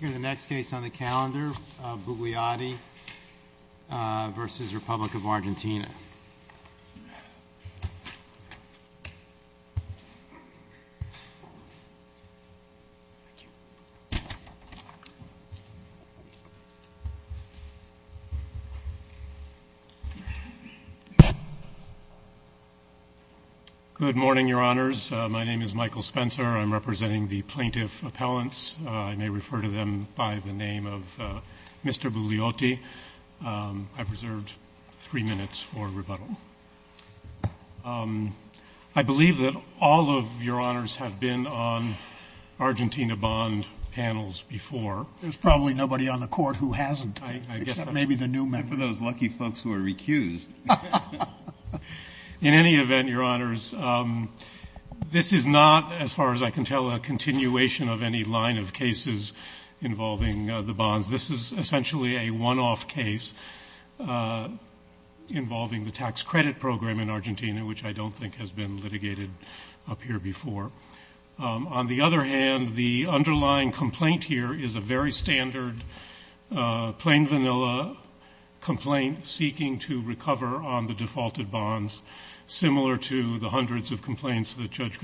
Here's the next case on the calendar, Bugliotti v. Republic of Argentina. Good morning, Your Honors. My name is Michael Spencer. I'm representing the plaintiff appellants. I may refer to them by the name of Mr. Bugliotti. I've reserved three minutes for rebuttal. I believe that all of Your Honors have been on Argentina bond panels before. There's probably nobody on the Court who hasn't, except maybe the new members. Except for those lucky folks who are recused. In any event, Your Honors, this is not, as far as I can tell, a continuation of any line of cases involving the bonds. This is essentially a one-off case involving the tax credit program in Argentina, which I don't think has been litigated up here before. On the other hand, the underlying complaint here is a very standard, plain vanilla complaint seeking to recover on the defaulted bonds, similar to the hundreds of complaints that Judge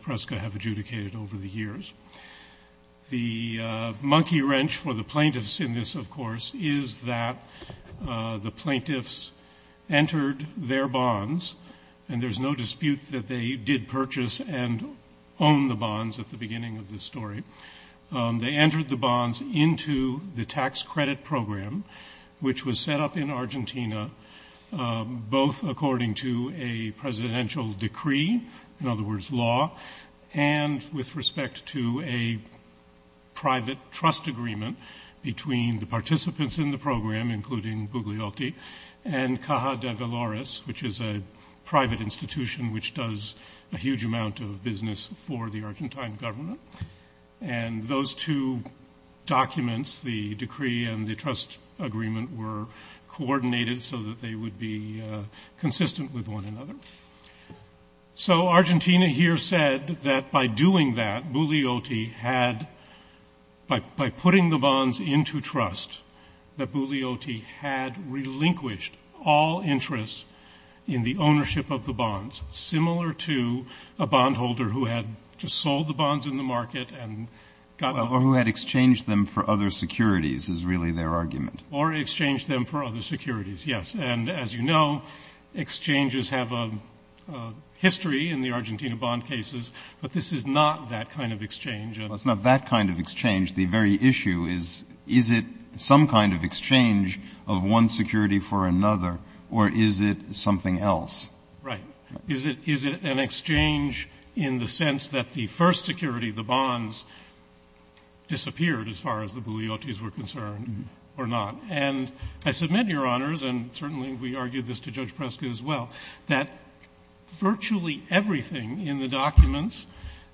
Preska have adjudicated over the years. The monkey wrench for the plaintiffs in this, of course, is that the plaintiffs entered their bonds, and there's no dispute that they did purchase and own the bonds at the beginning of this story. They entered the bonds into the tax credit program, which was set up in with respect to a private trust agreement between the participants in the program, including Bugliotti, and Caja de Valores, which is a private institution which does a huge amount of business for the Argentine government. And those two documents, the decree and the trust agreement, were coordinated so that they would be consistent with one another. So, Argentina here said that by doing that, Bugliotti had, by putting the bonds into trust, that Bugliotti had relinquished all interest in the ownership of the bonds, similar to a bondholder who had just sold the bonds in the market and got them- Well, or who had exchanged them for other securities, is really their argument. Or exchanged them for other securities, yes. And as you know, exchanges have a history in the Argentina bond cases, but this is not that kind of exchange. Well, it's not that kind of exchange. The very issue is, is it some kind of exchange of one security for another, or is it something else? Right. Is it an exchange in the sense that the first security, the bonds, disappeared as far as the Bugliottis were concerned, or not? And I submit, Your Honors, and certainly we argued this to Judge Prescott as well, that virtually everything in the documents,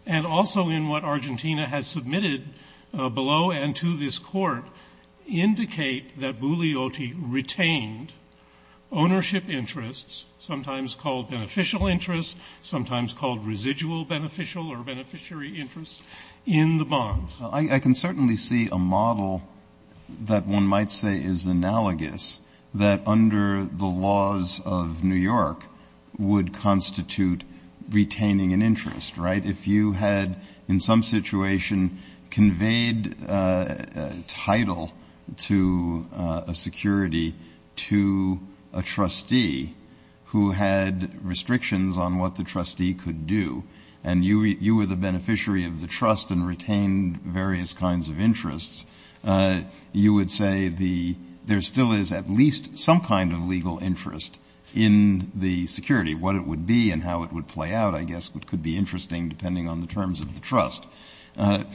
and also in what Argentina has submitted below and to this Court, indicate that Bugliotti retained ownership interests, sometimes called beneficial interests, sometimes called residual beneficial or beneficiary interests, in the bonds. I can certainly see a model that one might say is analogous, that under the laws of New York would constitute retaining an interest, right? If you had, in some situation, conveyed a title to a security to a trustee who had restrictions on what the trustee could do, and you were the beneficiary of the trust and retained various kinds of interests, you would say there still is at least some kind of legal interest in the security, what it would be and how it would play out, I guess, which could be interesting depending on the terms of the trust. But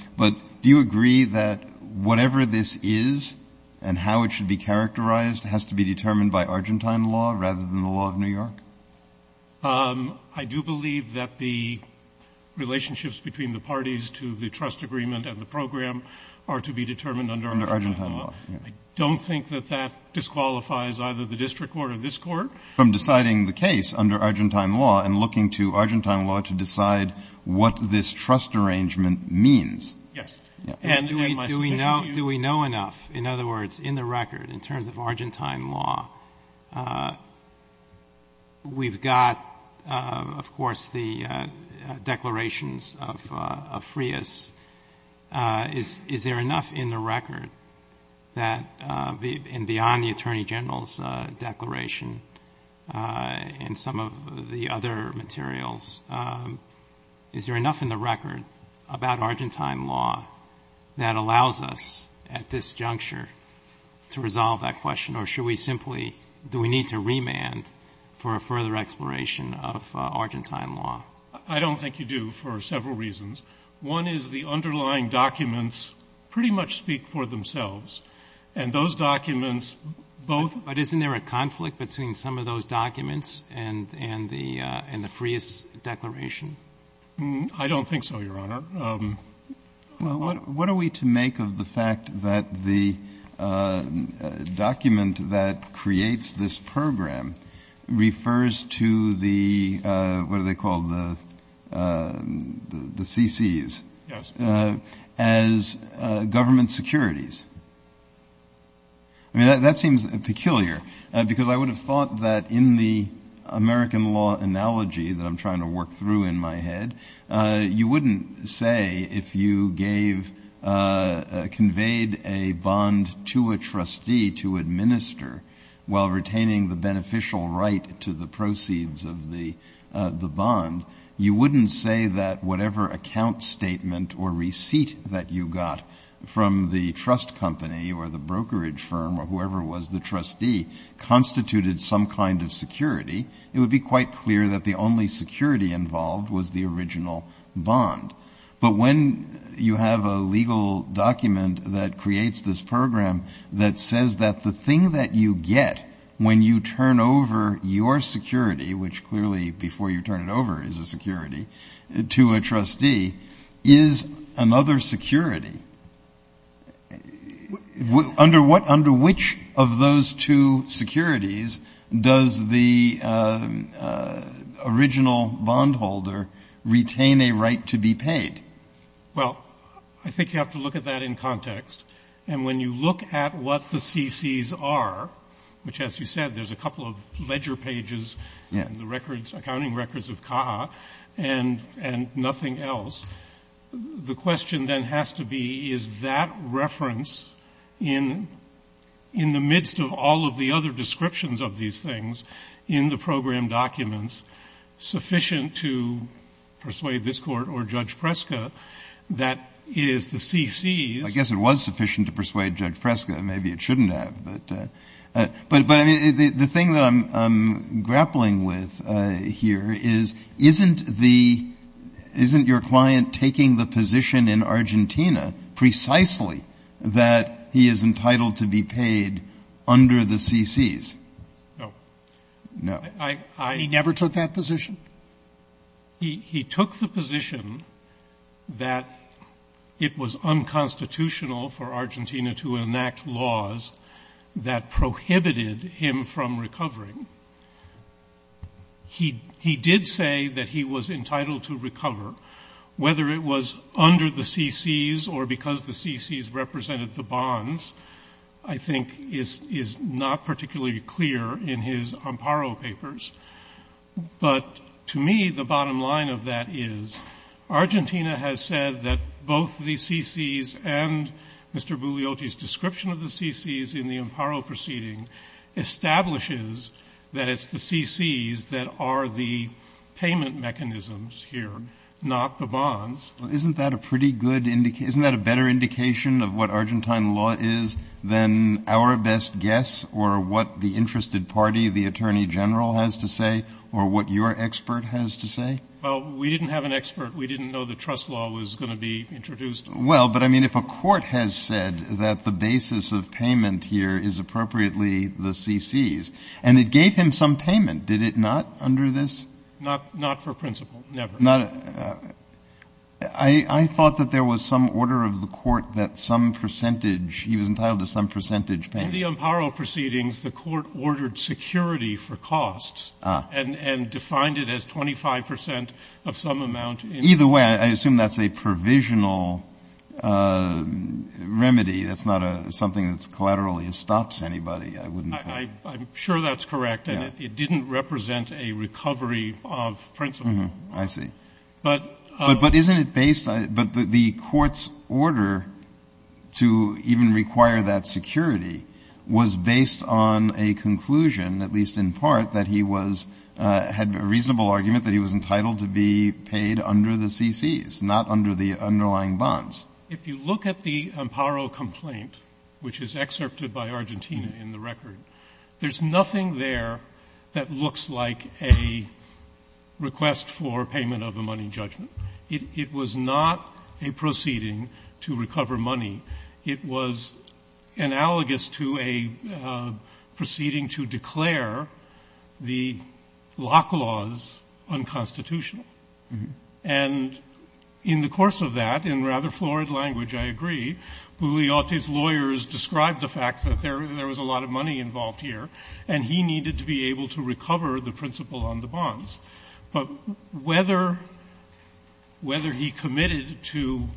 do you agree that whatever this is and how it should be characterized has to be determined by Argentine law rather than the law of New York? I do believe that the relationships between the parties to the trust agreement and the program are to be determined under Argentine law. I don't think that that disqualifies either the district court or this court. From deciding the case under Argentine law and looking to Argentine law to decide what this trust arrangement means. Yes. And do we know enough, in other words, in the record, in terms of Argentine law, we've got, of course, the declarations of Frias, is, is there enough in the record that, and beyond the attorney general's declaration and some of the other materials, is there enough in the record about Argentine law that allows us at this juncture to resolve that question? Or should we simply, do we need to remand for a further exploration of Argentine law? I don't think you do for several reasons. One is the underlying documents pretty much speak for themselves. And those documents both. But isn't there a conflict between some of those documents and, and the, and the Frias declaration? I don't think so, Your Honor. Well, what, what are we to make of the fact that the document that creates this program refers to the, what do they call the, the CCs as government securities? I mean, that, that seems peculiar because I would have thought that in the American law analogy that I'm trying to work through in my head, you wouldn't say if you gave, conveyed a bond to a trustee to administer while retaining the beneficial right to the proceeds of the, the bond. You wouldn't say that whatever account statement or receipt that you got from the trust company or the brokerage firm or whoever was the trustee constituted some kind of security. It would be quite clear that the only security involved was the original bond. But when you have a legal document that creates this program that says that the thing that you get when you turn over your security, which clearly before you turn it over is a security, to a trustee is another security. Under what, under which of those two securities does the original bondholder retain a right to be paid? Well, I think you have to look at that in context. And when you look at what the CCs are, which as you said, there's a couple of ledger pages and the records, accounting records of CAA and, and nothing else. The question then has to be, is that reference in, in the midst of all of the other descriptions of these things in the program documents sufficient to persuade this Court or Judge Preska that is the CCs. I guess it was sufficient to persuade Judge Preska. Maybe it shouldn't have, but, but, but I mean, the, the thing that I'm, I'm grappling with here is, isn't the, isn't your client taking the position in Argentina precisely that he is entitled to be paid under the CCs? No. No. I, I. He never took that position? He, he took the position that it was unconstitutional for Argentina to enact laws that prohibited him from recovering. He, he did say that he was entitled to recover, whether it was under the CCs or because the CCs represented the bonds, I think is, is not particularly clear in his Amparo papers. But to me, the bottom line of that is Argentina has said that both the CCs and Mr. Bugliotti's description of the CCs in the Amparo proceeding establishes that it's the CCs that are the payment mechanisms here, not the bonds. Well, isn't that a pretty good indication? Isn't that a better indication of what Argentine law is than our best guess or what the interested party, the attorney general has to say, or what your expert has to say? Well, we didn't have an expert. We didn't know the trust law was going to be introduced. Well, but I mean, if a court has said that the basis of payment here is appropriately the CCs, and it gave him some payment, did it not under this? Not, not for principle, never. Not, I thought that there was some order of the court that some percentage, he was entitled to some percentage payment. In the Amparo proceedings, the court ordered security for costs and, and defined it as 25% of some amount. Either way, I assume that's a provisional remedy. That's not a, something that's collaterally, it stops anybody. I wouldn't. I, I'm sure that's correct. And it didn't represent a recovery of principle. I see. But, but, but isn't it based, but the court's order to even require that security was based on a conclusion, at least in part, that he was, had a reasonable argument that he was entitled to be paid under the CCs, not under the underlying bonds. If you look at the Amparo complaint, which is excerpted by Argentina in the record, there's nothing there that looks like a request for payment of a money judgment. It was not a proceeding to recover money. It was analogous to a proceeding to declare the lock laws unconstitutional. And in the course of that, in rather florid language, I agree, Julio's lawyers described the fact that there, there was a lot of money involved here and he needed to be able to recover the principle on the bonds, but whether, whether he committed to,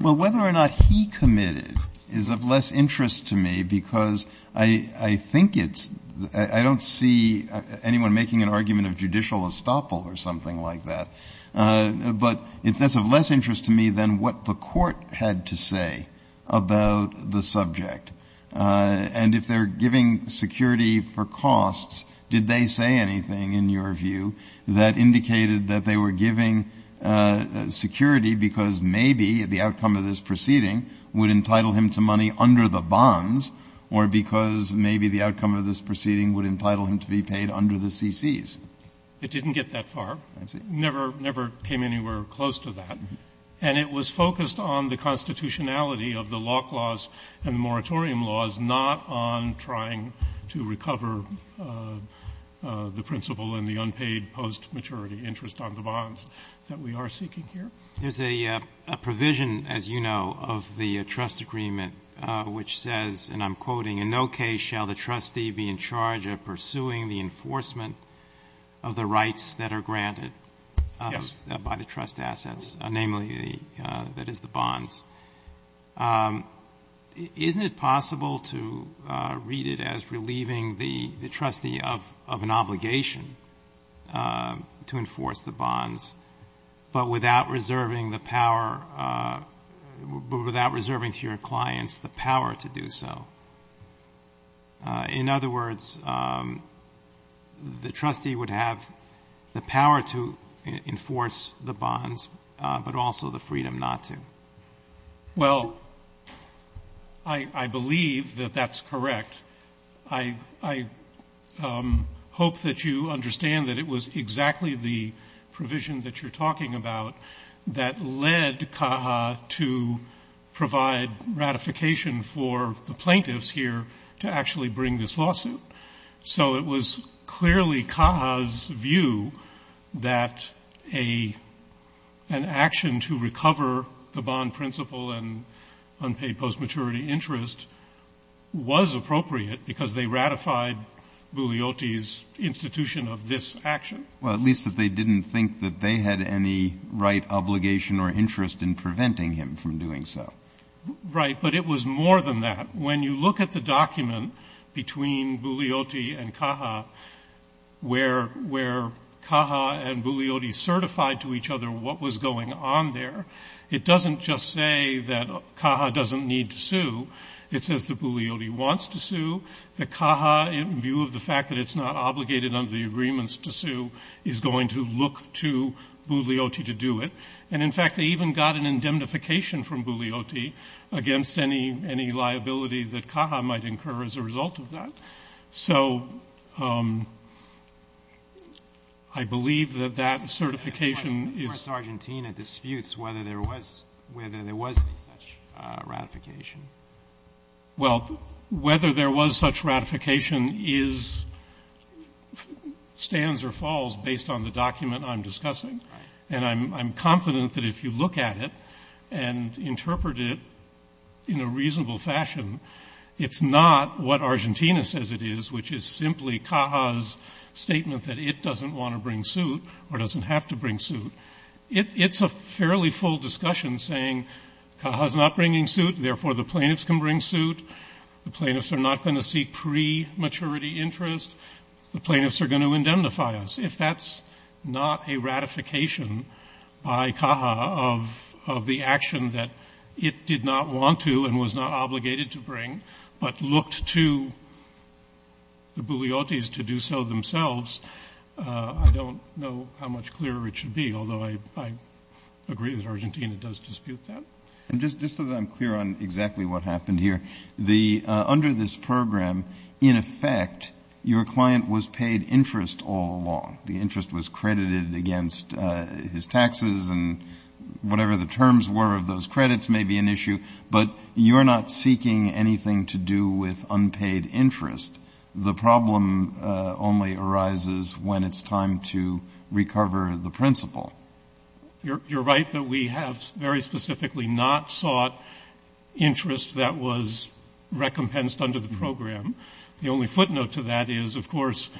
well, whether or not he committed is of less interest to me because I, I think it's, I don't see anyone making an argument of judicial estoppel or something like that, but it's less of less interest to me than what the court had to say about the subject. And if they're giving security for costs, did they say anything in your view that indicated that they were giving security because maybe the outcome of this proceeding would entitle him to money under the bonds or because maybe the outcome of this proceeding would entitle him to be paid under the CCs? It didn't get that far. I see. Never, never came anywhere close to that. And it was focused on the constitutionality of the lock laws and moratorium laws, not on trying to recover the principle and the unpaid post maturity interest on the bonds that we are seeking here. There's a provision, as you know, of the trust agreement, which says, and I'm quoting in no case shall the trustee be in charge of pursuing the enforcement of the rights that are granted by the trust assets, namely the, that is the bonds. Isn't it possible to read it as relieving the trustee of an obligation to enforce the bonds, but without reserving the power without reserving to your clients, the power to do so. In other words, the trustee would have the power to enforce the bonds, but also the freedom not to. Well, I believe that that's correct. I, I hope that you understand that it was exactly the provision that you're talking about that led CAHA to provide ratification for the plaintiffs here to actually bring this lawsuit. So it was clearly CAHA's view that a, an action to recover the bond principle and unpaid post maturity interest was appropriate because they ratified Bugliotti's institution of this action. Well, at least that they didn't think that they had any right obligation or interest in preventing him from doing so. Right. But it was more than that. When you look at the document between Bugliotti and CAHA, where, where CAHA and Bugliotti certified to each other what was going on there, it doesn't just say that CAHA doesn't need to sue. It says that Bugliotti wants to sue, that CAHA in view of the fact that it's not obligated under the agreements to sue is going to look to Bugliotti to do it. And in fact, they even got an indemnification from Bugliotti against any, any liability that CAHA might incur as a result of that. So I believe that that certification is. Argentina disputes whether there was, whether there was any such ratification. Well, whether there was such ratification is stands or falls based on the document I'm discussing. And I'm, I'm confident that if you look at it and interpret it in a reasonable fashion, it's not what Argentina says it is, which is simply CAHA's statement that it doesn't want to bring suit or doesn't have to bring suit. It's a fairly full discussion saying CAHA's not bringing suit. Therefore, the plaintiffs can bring suit. The plaintiffs are not going to seek pre-maturity interest. The plaintiffs are going to indemnify us. If that's not a ratification by CAHA of, of the action that it did not want to and was not obligated to bring, but looked to the Bugliottis to do so themselves. I don't know how much clearer it should be, although I, I agree that Argentina does dispute that. And just, just so that I'm clear on exactly what happened here, the under this program, in effect, your client was paid interest all along. The interest was credited against his taxes and whatever the terms were of those credits may be an issue, but you're not seeking anything to do with unpaid interest. The problem only arises when it's time to recover the principle. You're, you're right that we have very specifically not sought interest that was recompensed under the program. The only footnote to that is of course,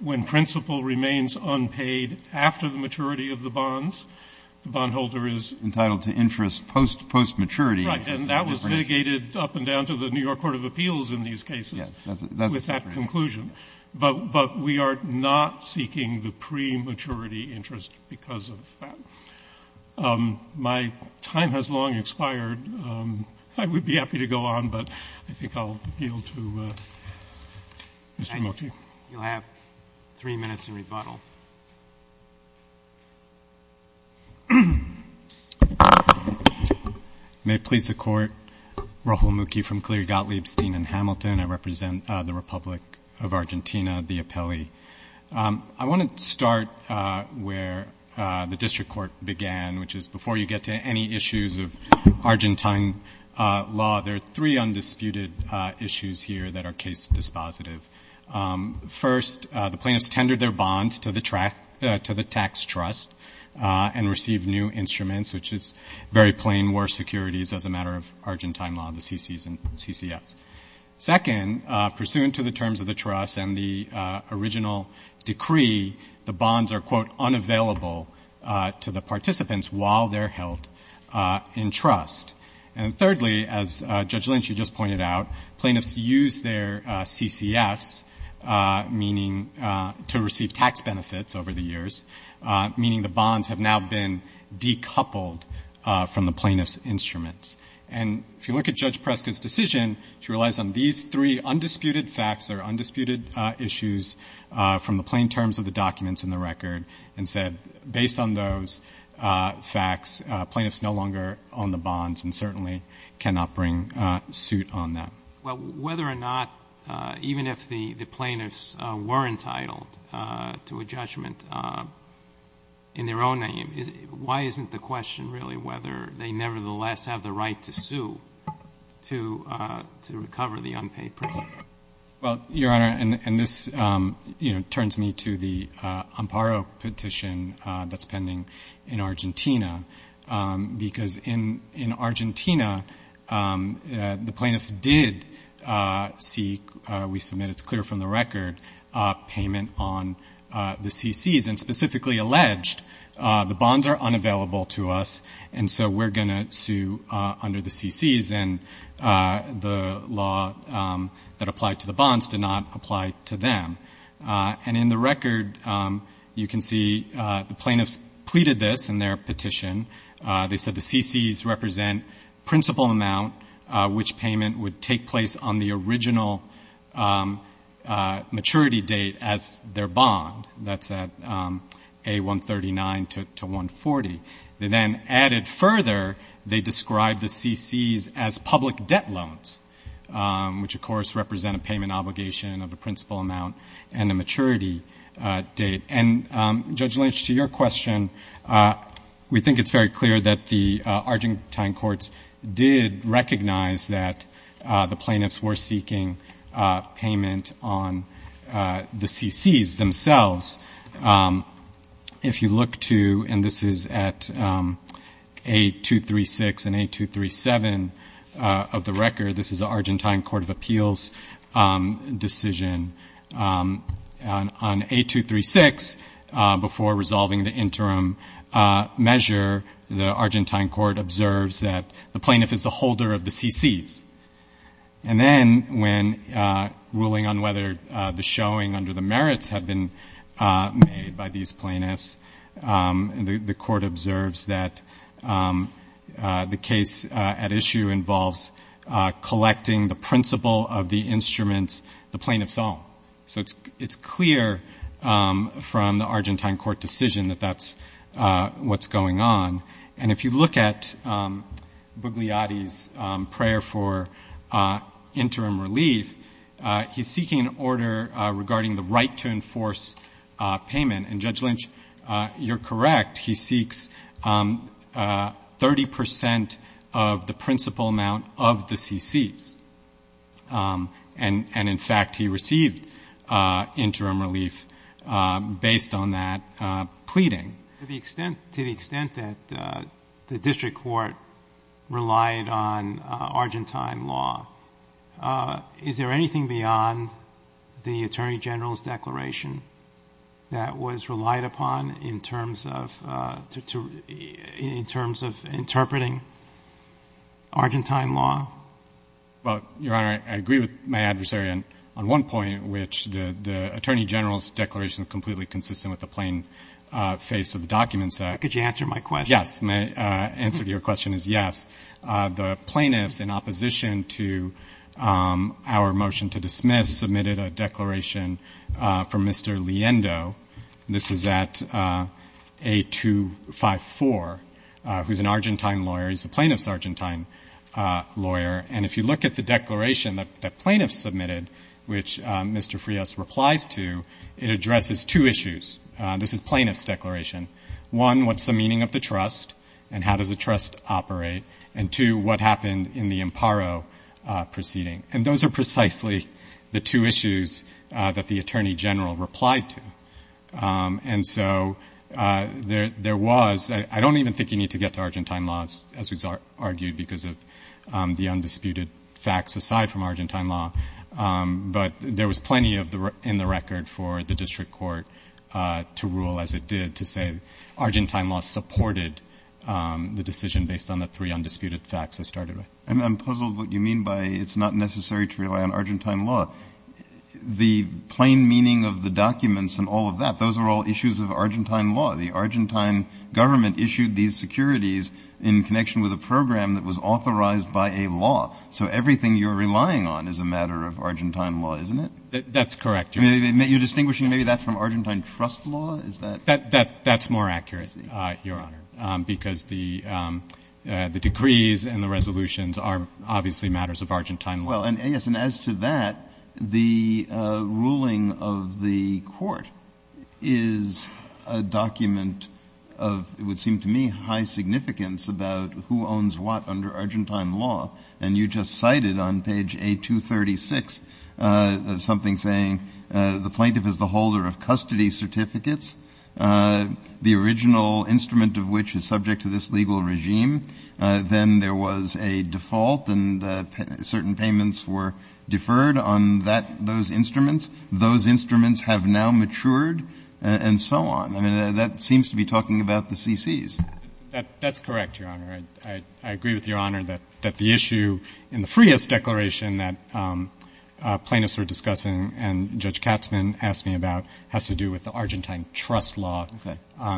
when principle remains unpaid after the maturity of the bonds, the bondholder is entitled to interest post post-maturity. Right. And that was mitigated up and down to the New York court of appeals in these cases with that conclusion. But, but we are not seeking the pre-maturity interest because of that. My time has long expired. I would be happy to go on, but I think I'll appeal to Mr. Moti. You'll have three minutes in rebuttal. May it please the court. Rahul Mukhi from Cleary, Gottlieb, Steen and Hamilton. I represent the Republic of Argentina, the appellee. I want to start where the district court began, which is before you get to any issues of Argentine law, there are three undisputed issues here that are case dispositive. First, the plaintiffs tendered their bonds to the track, to the tax trust and received new instruments, which is very plain war securities as a matter of Argentine law, the CCs and CCFs. Second, pursuant to the terms of the trust and the original decree, the bonds are quote, unavailable to the participants while they're held in trust. And thirdly, as Judge Lynch, you just pointed out, plaintiffs use their CCFs meaning to receive tax benefits over the years. Meaning the bonds have now been decoupled from the plaintiff's instruments. And if you look at Judge Prescott's decision, she relies on these three undisputed facts or undisputed issues from the plain terms of the documents in the record and said, based on those facts, plaintiffs no longer own the bonds and certainly cannot bring a suit on that. Well, whether or not, even if the plaintiffs were entitled to a judgment in their own name, why isn't the question really whether they nevertheless have the right to sue to recover the unpaid prison? Well, Your Honor, and this turns me to the Amparo petition that's pending in Argentina, because in Argentina, the plaintiffs did seek, we submit, it's clear from the record, payment on the CCs and specifically alleged the bonds are unavailable to us and so we're going to sue under the CCs and the law that applied to the bonds did not apply to them. And in the record, you can see the plaintiffs pleaded this in their petition. They said the CCs represent principal amount, which payment would take place on the original maturity date as their bond, that's at A139 to 140. They then added further, they described the CCs as public debt loans, which of course represent a payment obligation of a principal amount and a maturity date. And Judge Lynch, to your question, we think it's very clear that the Argentine courts did recognize that the plaintiffs were seeking a payment on the CCs themselves. If you look to, and this is at A236 and A237 of the record, this is the Argentine Court of Appeals decision on A236 before resolving the interim measure. The Argentine court observes that the plaintiff is the holder of the CCs. And then when ruling on whether the showing under the merits had been made by these plaintiffs, the court observes that the case at issue involves collecting the principal of the instruments the plaintiffs own. So it's clear from the Argentine court decision that that's what's going on. And if you look at Bugliotti's prayer for interim relief, he's seeking an order regarding the right to enforce payment. And Judge Lynch, you're correct. He seeks 30% of the principal amount of the CCs. And in fact, he received interim relief based on that pleading. To the extent that the district court relied on Argentine law, is there anything beyond the Attorney General's declaration that was relied upon in terms of interpreting Argentine law? Well, Your Honor, I agree with my adversary on one point, which the Attorney General's declaration is completely consistent with the plain face of the documents that... Could you answer my question? Yes. My answer to your question is yes. The plaintiffs, in opposition to our motion to dismiss, submitted a declaration from Mr. Leendo. This is at A254, who's an Argentine lawyer. He's a plaintiff's Argentine lawyer. And if you look at the declaration that the plaintiff submitted, which Mr. Frias replies to, it addresses two issues. This is plaintiff's declaration. One, what's the meaning of the trust and how does the trust operate? And two, what happened in the Imparo proceeding? And those are precisely the two issues that the Attorney General replied to. And so there was, I don't even think you need to get to Argentine laws, as was argued because of the undisputed facts aside from Argentine law, but there was plenty in the record for the district court to rule as it did, to say Argentine law supported the decision based on the three undisputed facts it started with. And I'm puzzled what you mean by it's not necessary to rely on Argentine law. The plain meaning of the documents and all of that, those are all issues of Argentine law. The Argentine government issued these securities in connection with a program that was authorized by a law. So everything you're relying on is a matter of Argentine law, isn't it? That's correct. You're distinguishing maybe that from Argentine trust law? Is that? That's more accurate, Your Honor, because the decrees and the resolutions are obviously matters of Argentine law. Well, and as to that, the ruling of the court is a document of, it would seem to me, high significance about who owns what under Argentine law. And you just cited on page A236, something saying the plaintiff is the holder of custody certificates, the original instrument of which is subject to this legal regime. Then there was a default and certain payments were deferred on that, those instruments, those instruments have now matured and so on. I mean, that seems to be talking about the CCs. That's correct, Your Honor. I agree with Your Honor that the issue in the Frias declaration that plaintiffs were discussing and Judge Katzmann asked me about has to do with the Argentine trust law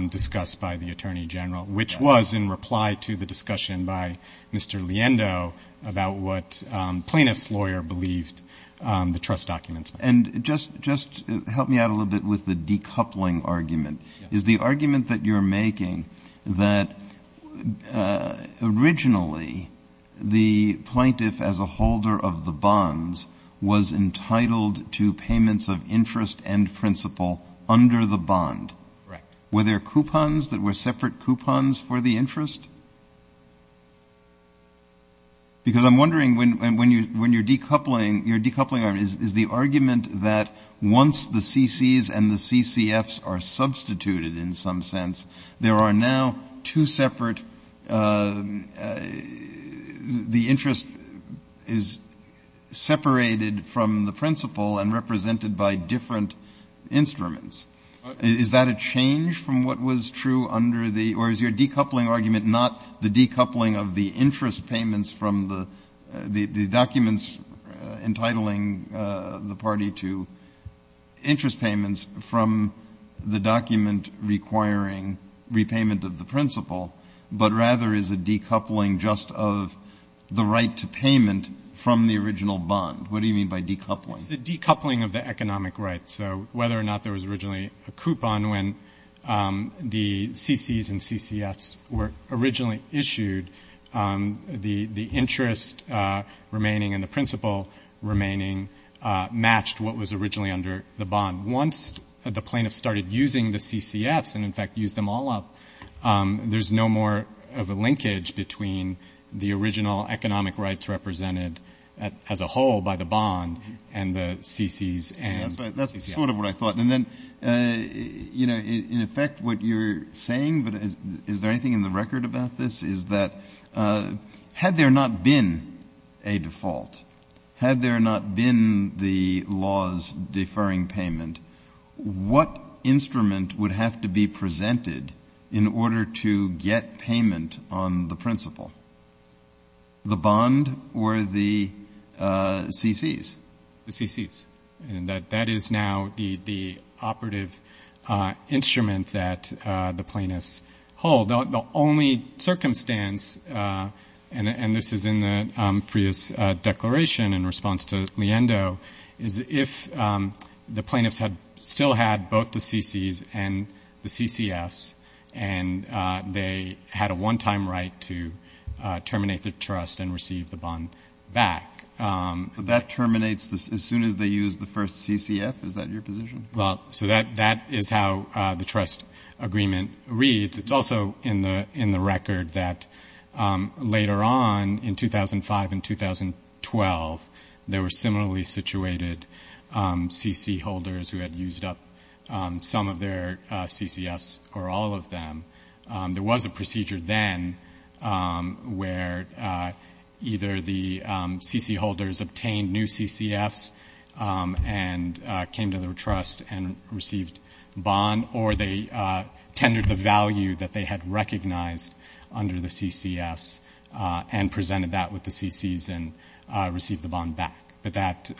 discussed by the Attorney General, which was in reply to the discussion by Mr. Liendo about what plaintiff's lawyer believed the trust documents. And just, just help me out a little bit with the decoupling argument, is the argument that you're making that originally the plaintiff as a holder of the bonds was entitled to payments of interest and principal under the bond. Correct. Were there coupons that were separate coupons for the interest? Because I'm wondering when, when you, when you're decoupling, your decoupling argument is, is the argument that once the CCs and the CCFs are substituted in some sense, there are now two separate, the interest is separated from the principal and represented by different instruments. Is that a change from what was true under the, or is your decoupling argument not the decoupling of the interest payments from the, the, the documents entitling the party to interest payments from the document requiring repayment of the principal, but rather is a decoupling just of the right to payment from the original bond? What do you mean by decoupling? It's the decoupling of the economic rights. So whether or not there was originally a coupon when the CCs and CCFs were originally issued, the, the interest remaining and the principal remaining matched what was originally under the bond. Once the plaintiff started using the CCFs and in fact, use them all up, there's no more of a linkage between the original economic rights represented as a whole by the bond and the CCs and CCFs. That's sort of what I thought. And then, you know, in effect what you're saying, but is there anything in the record about this is that had there not been a default, had there not been the laws deferring payment, what instrument would have to be presented in order to get payment on the principal, the bond or the CCs? The CCs. And that, that is now the, the operative instrument that the plaintiffs hold. The only circumstance, and this is in the Freya's declaration in response to Leando, is if the plaintiffs had still had both the CCs and the CCFs and they had a one-time right to terminate the trust and receive the bond back. But that terminates as soon as they use the first CCF. Is that your position? Well, so that, that is how the trust agreement reads. It's also in the, in the record that later on in 2005 and 2012, there were similarly situated CC holders who had used up some of their CCFs or all of them. There was a procedure then where either the CC holders obtained new CCFs and came to their trust and received bond, or they tendered the value that they had recognized under the CCFs and presented that with the CCs and received the bond back. But that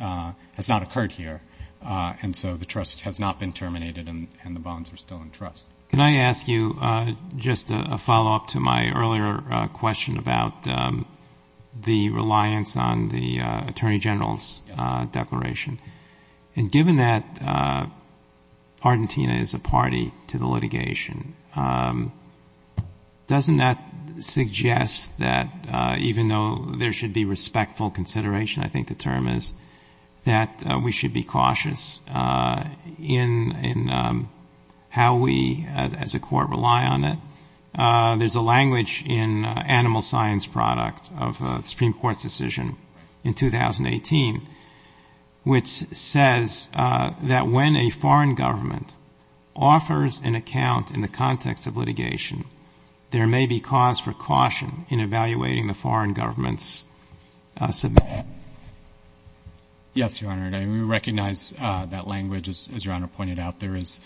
has not occurred here. And so the trust has not been terminated and the bonds are still in trust. Can I ask you just a follow-up to my earlier question about the reliance on the Attorney General's declaration? And given that Argentina is a party to the litigation, doesn't that suggest that even though there should be respectful consideration, I think the term is, that we should be cautious in how we, as a court, rely on it? There's a language in Animal Science Product of the Supreme Court's decision in 2018, which says that when a foreign government offers an account in the context of litigation, there may be cause for caution in evaluating the foreign government's submission. Yes, Your Honor. And we recognize that language, as Your Honor pointed out. There is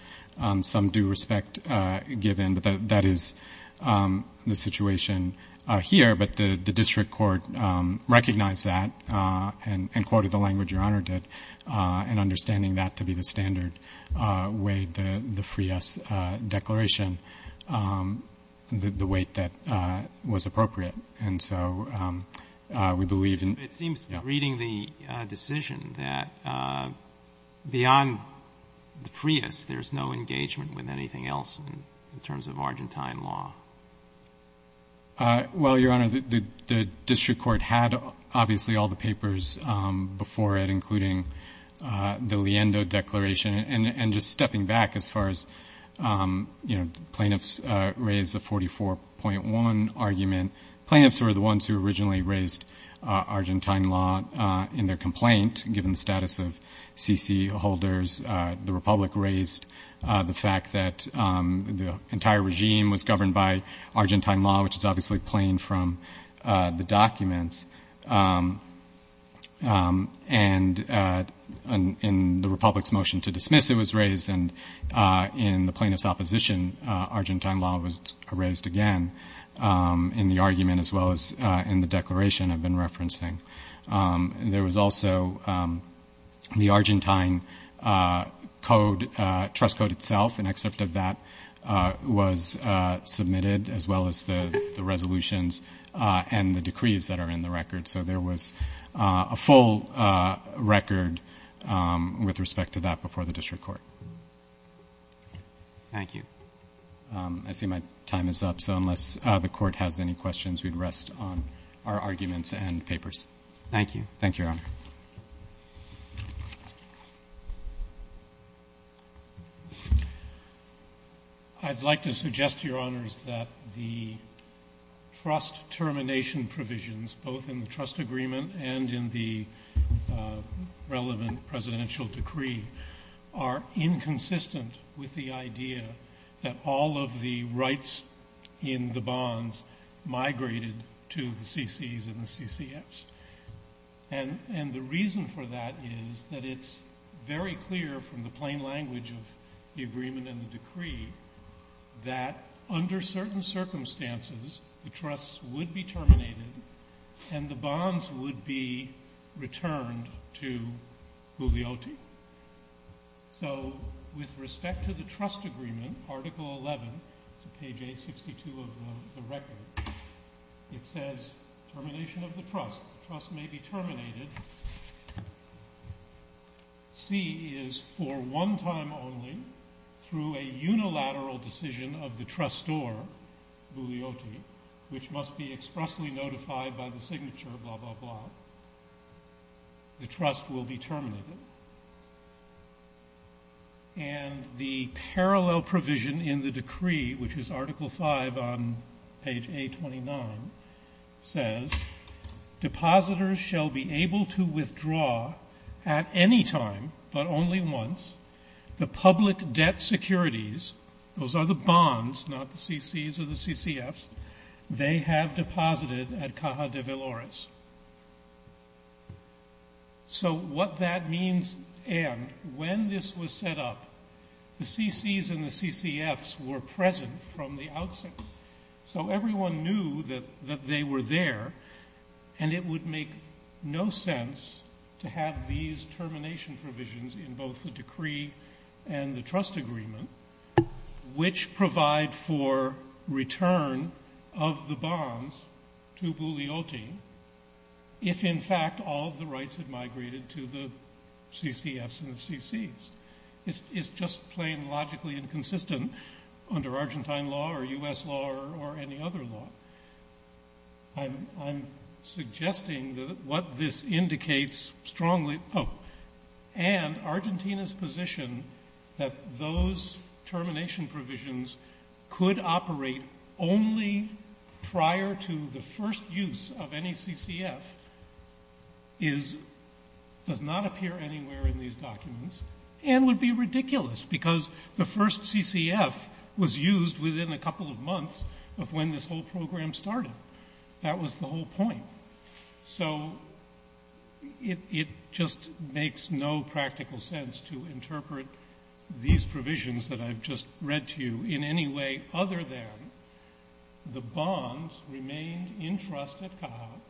some due respect given, but that is the situation here. But the district court recognized that and quoted the language Your Honor did, and understanding that to be the standard, weighed the FRIAS declaration, the weight that was appropriate. And so we believe in... It seems, reading the decision, that beyond the FRIAS, there's no engagement with anything else in terms of Argentine law. Well, Your Honor, the district court had, obviously, all the papers before it, including the Liendo declaration. And just stepping back as far as, you know, plaintiffs raised the 44.1 argument. Plaintiffs were the ones who originally raised Argentine law in their complaint, given the status of CC holders. The Republic raised the fact that the entire regime was governed by Argentine law, which is obviously plain from the documents. And in the Republic's motion to dismiss, it was raised. And in the plaintiff's opposition, Argentine law was raised again in the argument, as well as in the declaration I've been referencing. There was also the Argentine code, trust code itself, an excerpt of that was submitted, as well as the resolutions and the decrees that are in the record. So there was a full record with respect to that before the district court. Thank you. I see my time is up. So unless the court has any questions, we'd rest on our arguments and papers. Thank you. Thank you, Your Honor. I'd like to suggest, Your Honors, that the trust termination provisions, both in the trust agreement and in the relevant presidential decree, are inconsistent with the idea that all of the rights in the bonds migrated to the CCs and the CCFs. And the reason for that is that it's very clear from the plain language of the agreement and the decree that under certain circumstances, the trusts would be terminated and the bonds would be returned to Guglielti. So with respect to the trust agreement, Article 11, page 862 of the record, it says termination of the trust. The trust may be terminated. C is for one time only through a unilateral decision of the trustor, Guglielti, which must be expressly notified by the signature, blah, blah, blah. The trust will be terminated. And the parallel provision in the decree, which is Article 5 on page 829, says depositors shall be able to withdraw at any time but only once the public debt securities, those are the bonds, not the CCs or the CCFs, they have deposited at Caja de Velores. So what that means and when this was set up, the CCs and the CCFs were present from the outset. So everyone knew that they were there and it would make no sense to have these termination provisions in both the decree and the trust agreement, which provide for return of the bonds to Guglielti if in fact all of the rights had migrated to the CCFs and the CCs. It's just plain logically inconsistent under Argentine law or U.S. law or any other law. I'm suggesting that what this indicates strongly, oh, and Argentina's position that those termination provisions could operate only prior to the first use of any CCF does not appear anywhere in these documents and would be ridiculous because the first CCF was used within a couple of months of when this whole program started. That was the whole point. So it just makes no practical sense to interpret these provisions that I've just read to you in any way other than the bonds remained in trust at Caja.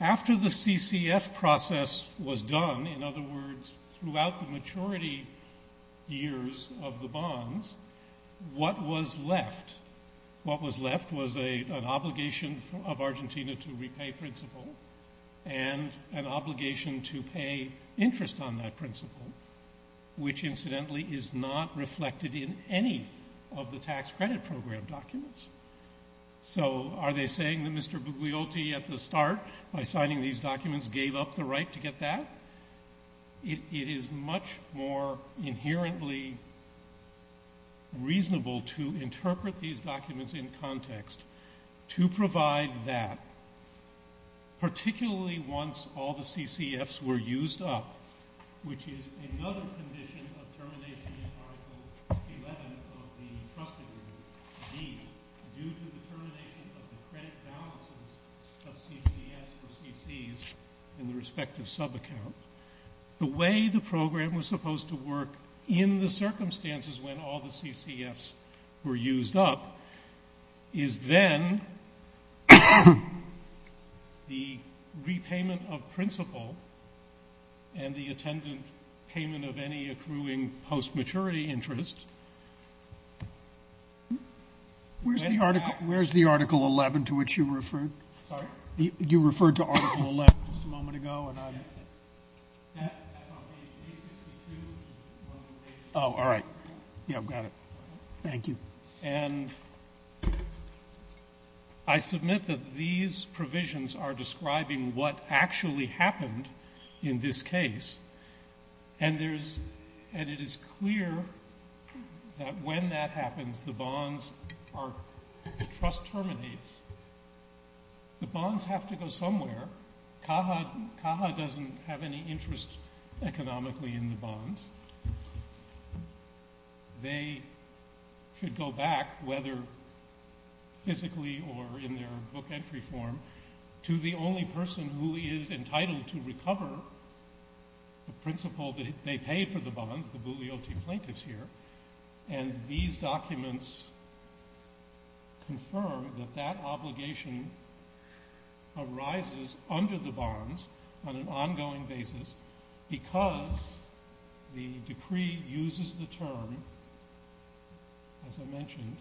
After the CCF process was done, in other words, throughout the maturity years of the bonds, what was left was an obligation of Argentina to repay principle and an obligation to pay interest on that principle, which incidentally is not reflected in any of the tax credit program documents. So are they saying that Mr. Guglielti at the start, by signing these documents, gave up the right to get that? It is much more inherently reasonable to interpret these documents in context to provide that, particularly once all the CCFs were used up, which is another condition of termination in Article 11 of the Trust Agreement, due to the termination of the credit balances of CCFs or CCs in the respective subaccount. The way the program was supposed to work in the circumstances when all the CCFs were used up is then the repayment of principle and the attendant payment of any accruing post-maturity interest Where's the Article 11 to which you referred? Sorry? You referred to Article 11 just a moment ago and I... Oh, all right. Yeah, I've got it. Thank you. And I submit that these provisions are describing what actually happened in this case and it is clear that when that happens, the bonds are... the trust terminates. The bonds have to go somewhere. CAHA doesn't have any interest economically in the bonds. They should go back, whether physically or in their book entry form, to the only person who is entitled to recover the principle that they paid for the bonds, the Bugliotti plaintiffs here, and these documents confirm that that obligation arises under the bonds on an ongoing basis because the decree uses the term, as I mentioned,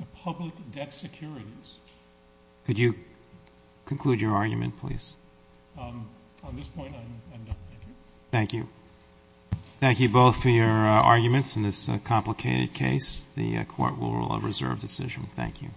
the public debt securities. Could you conclude your argument, please? On this point, I'm done. Thank you. Thank you. Thank you both for your arguments in this complicated case. The Court will reserve decision. Thank you.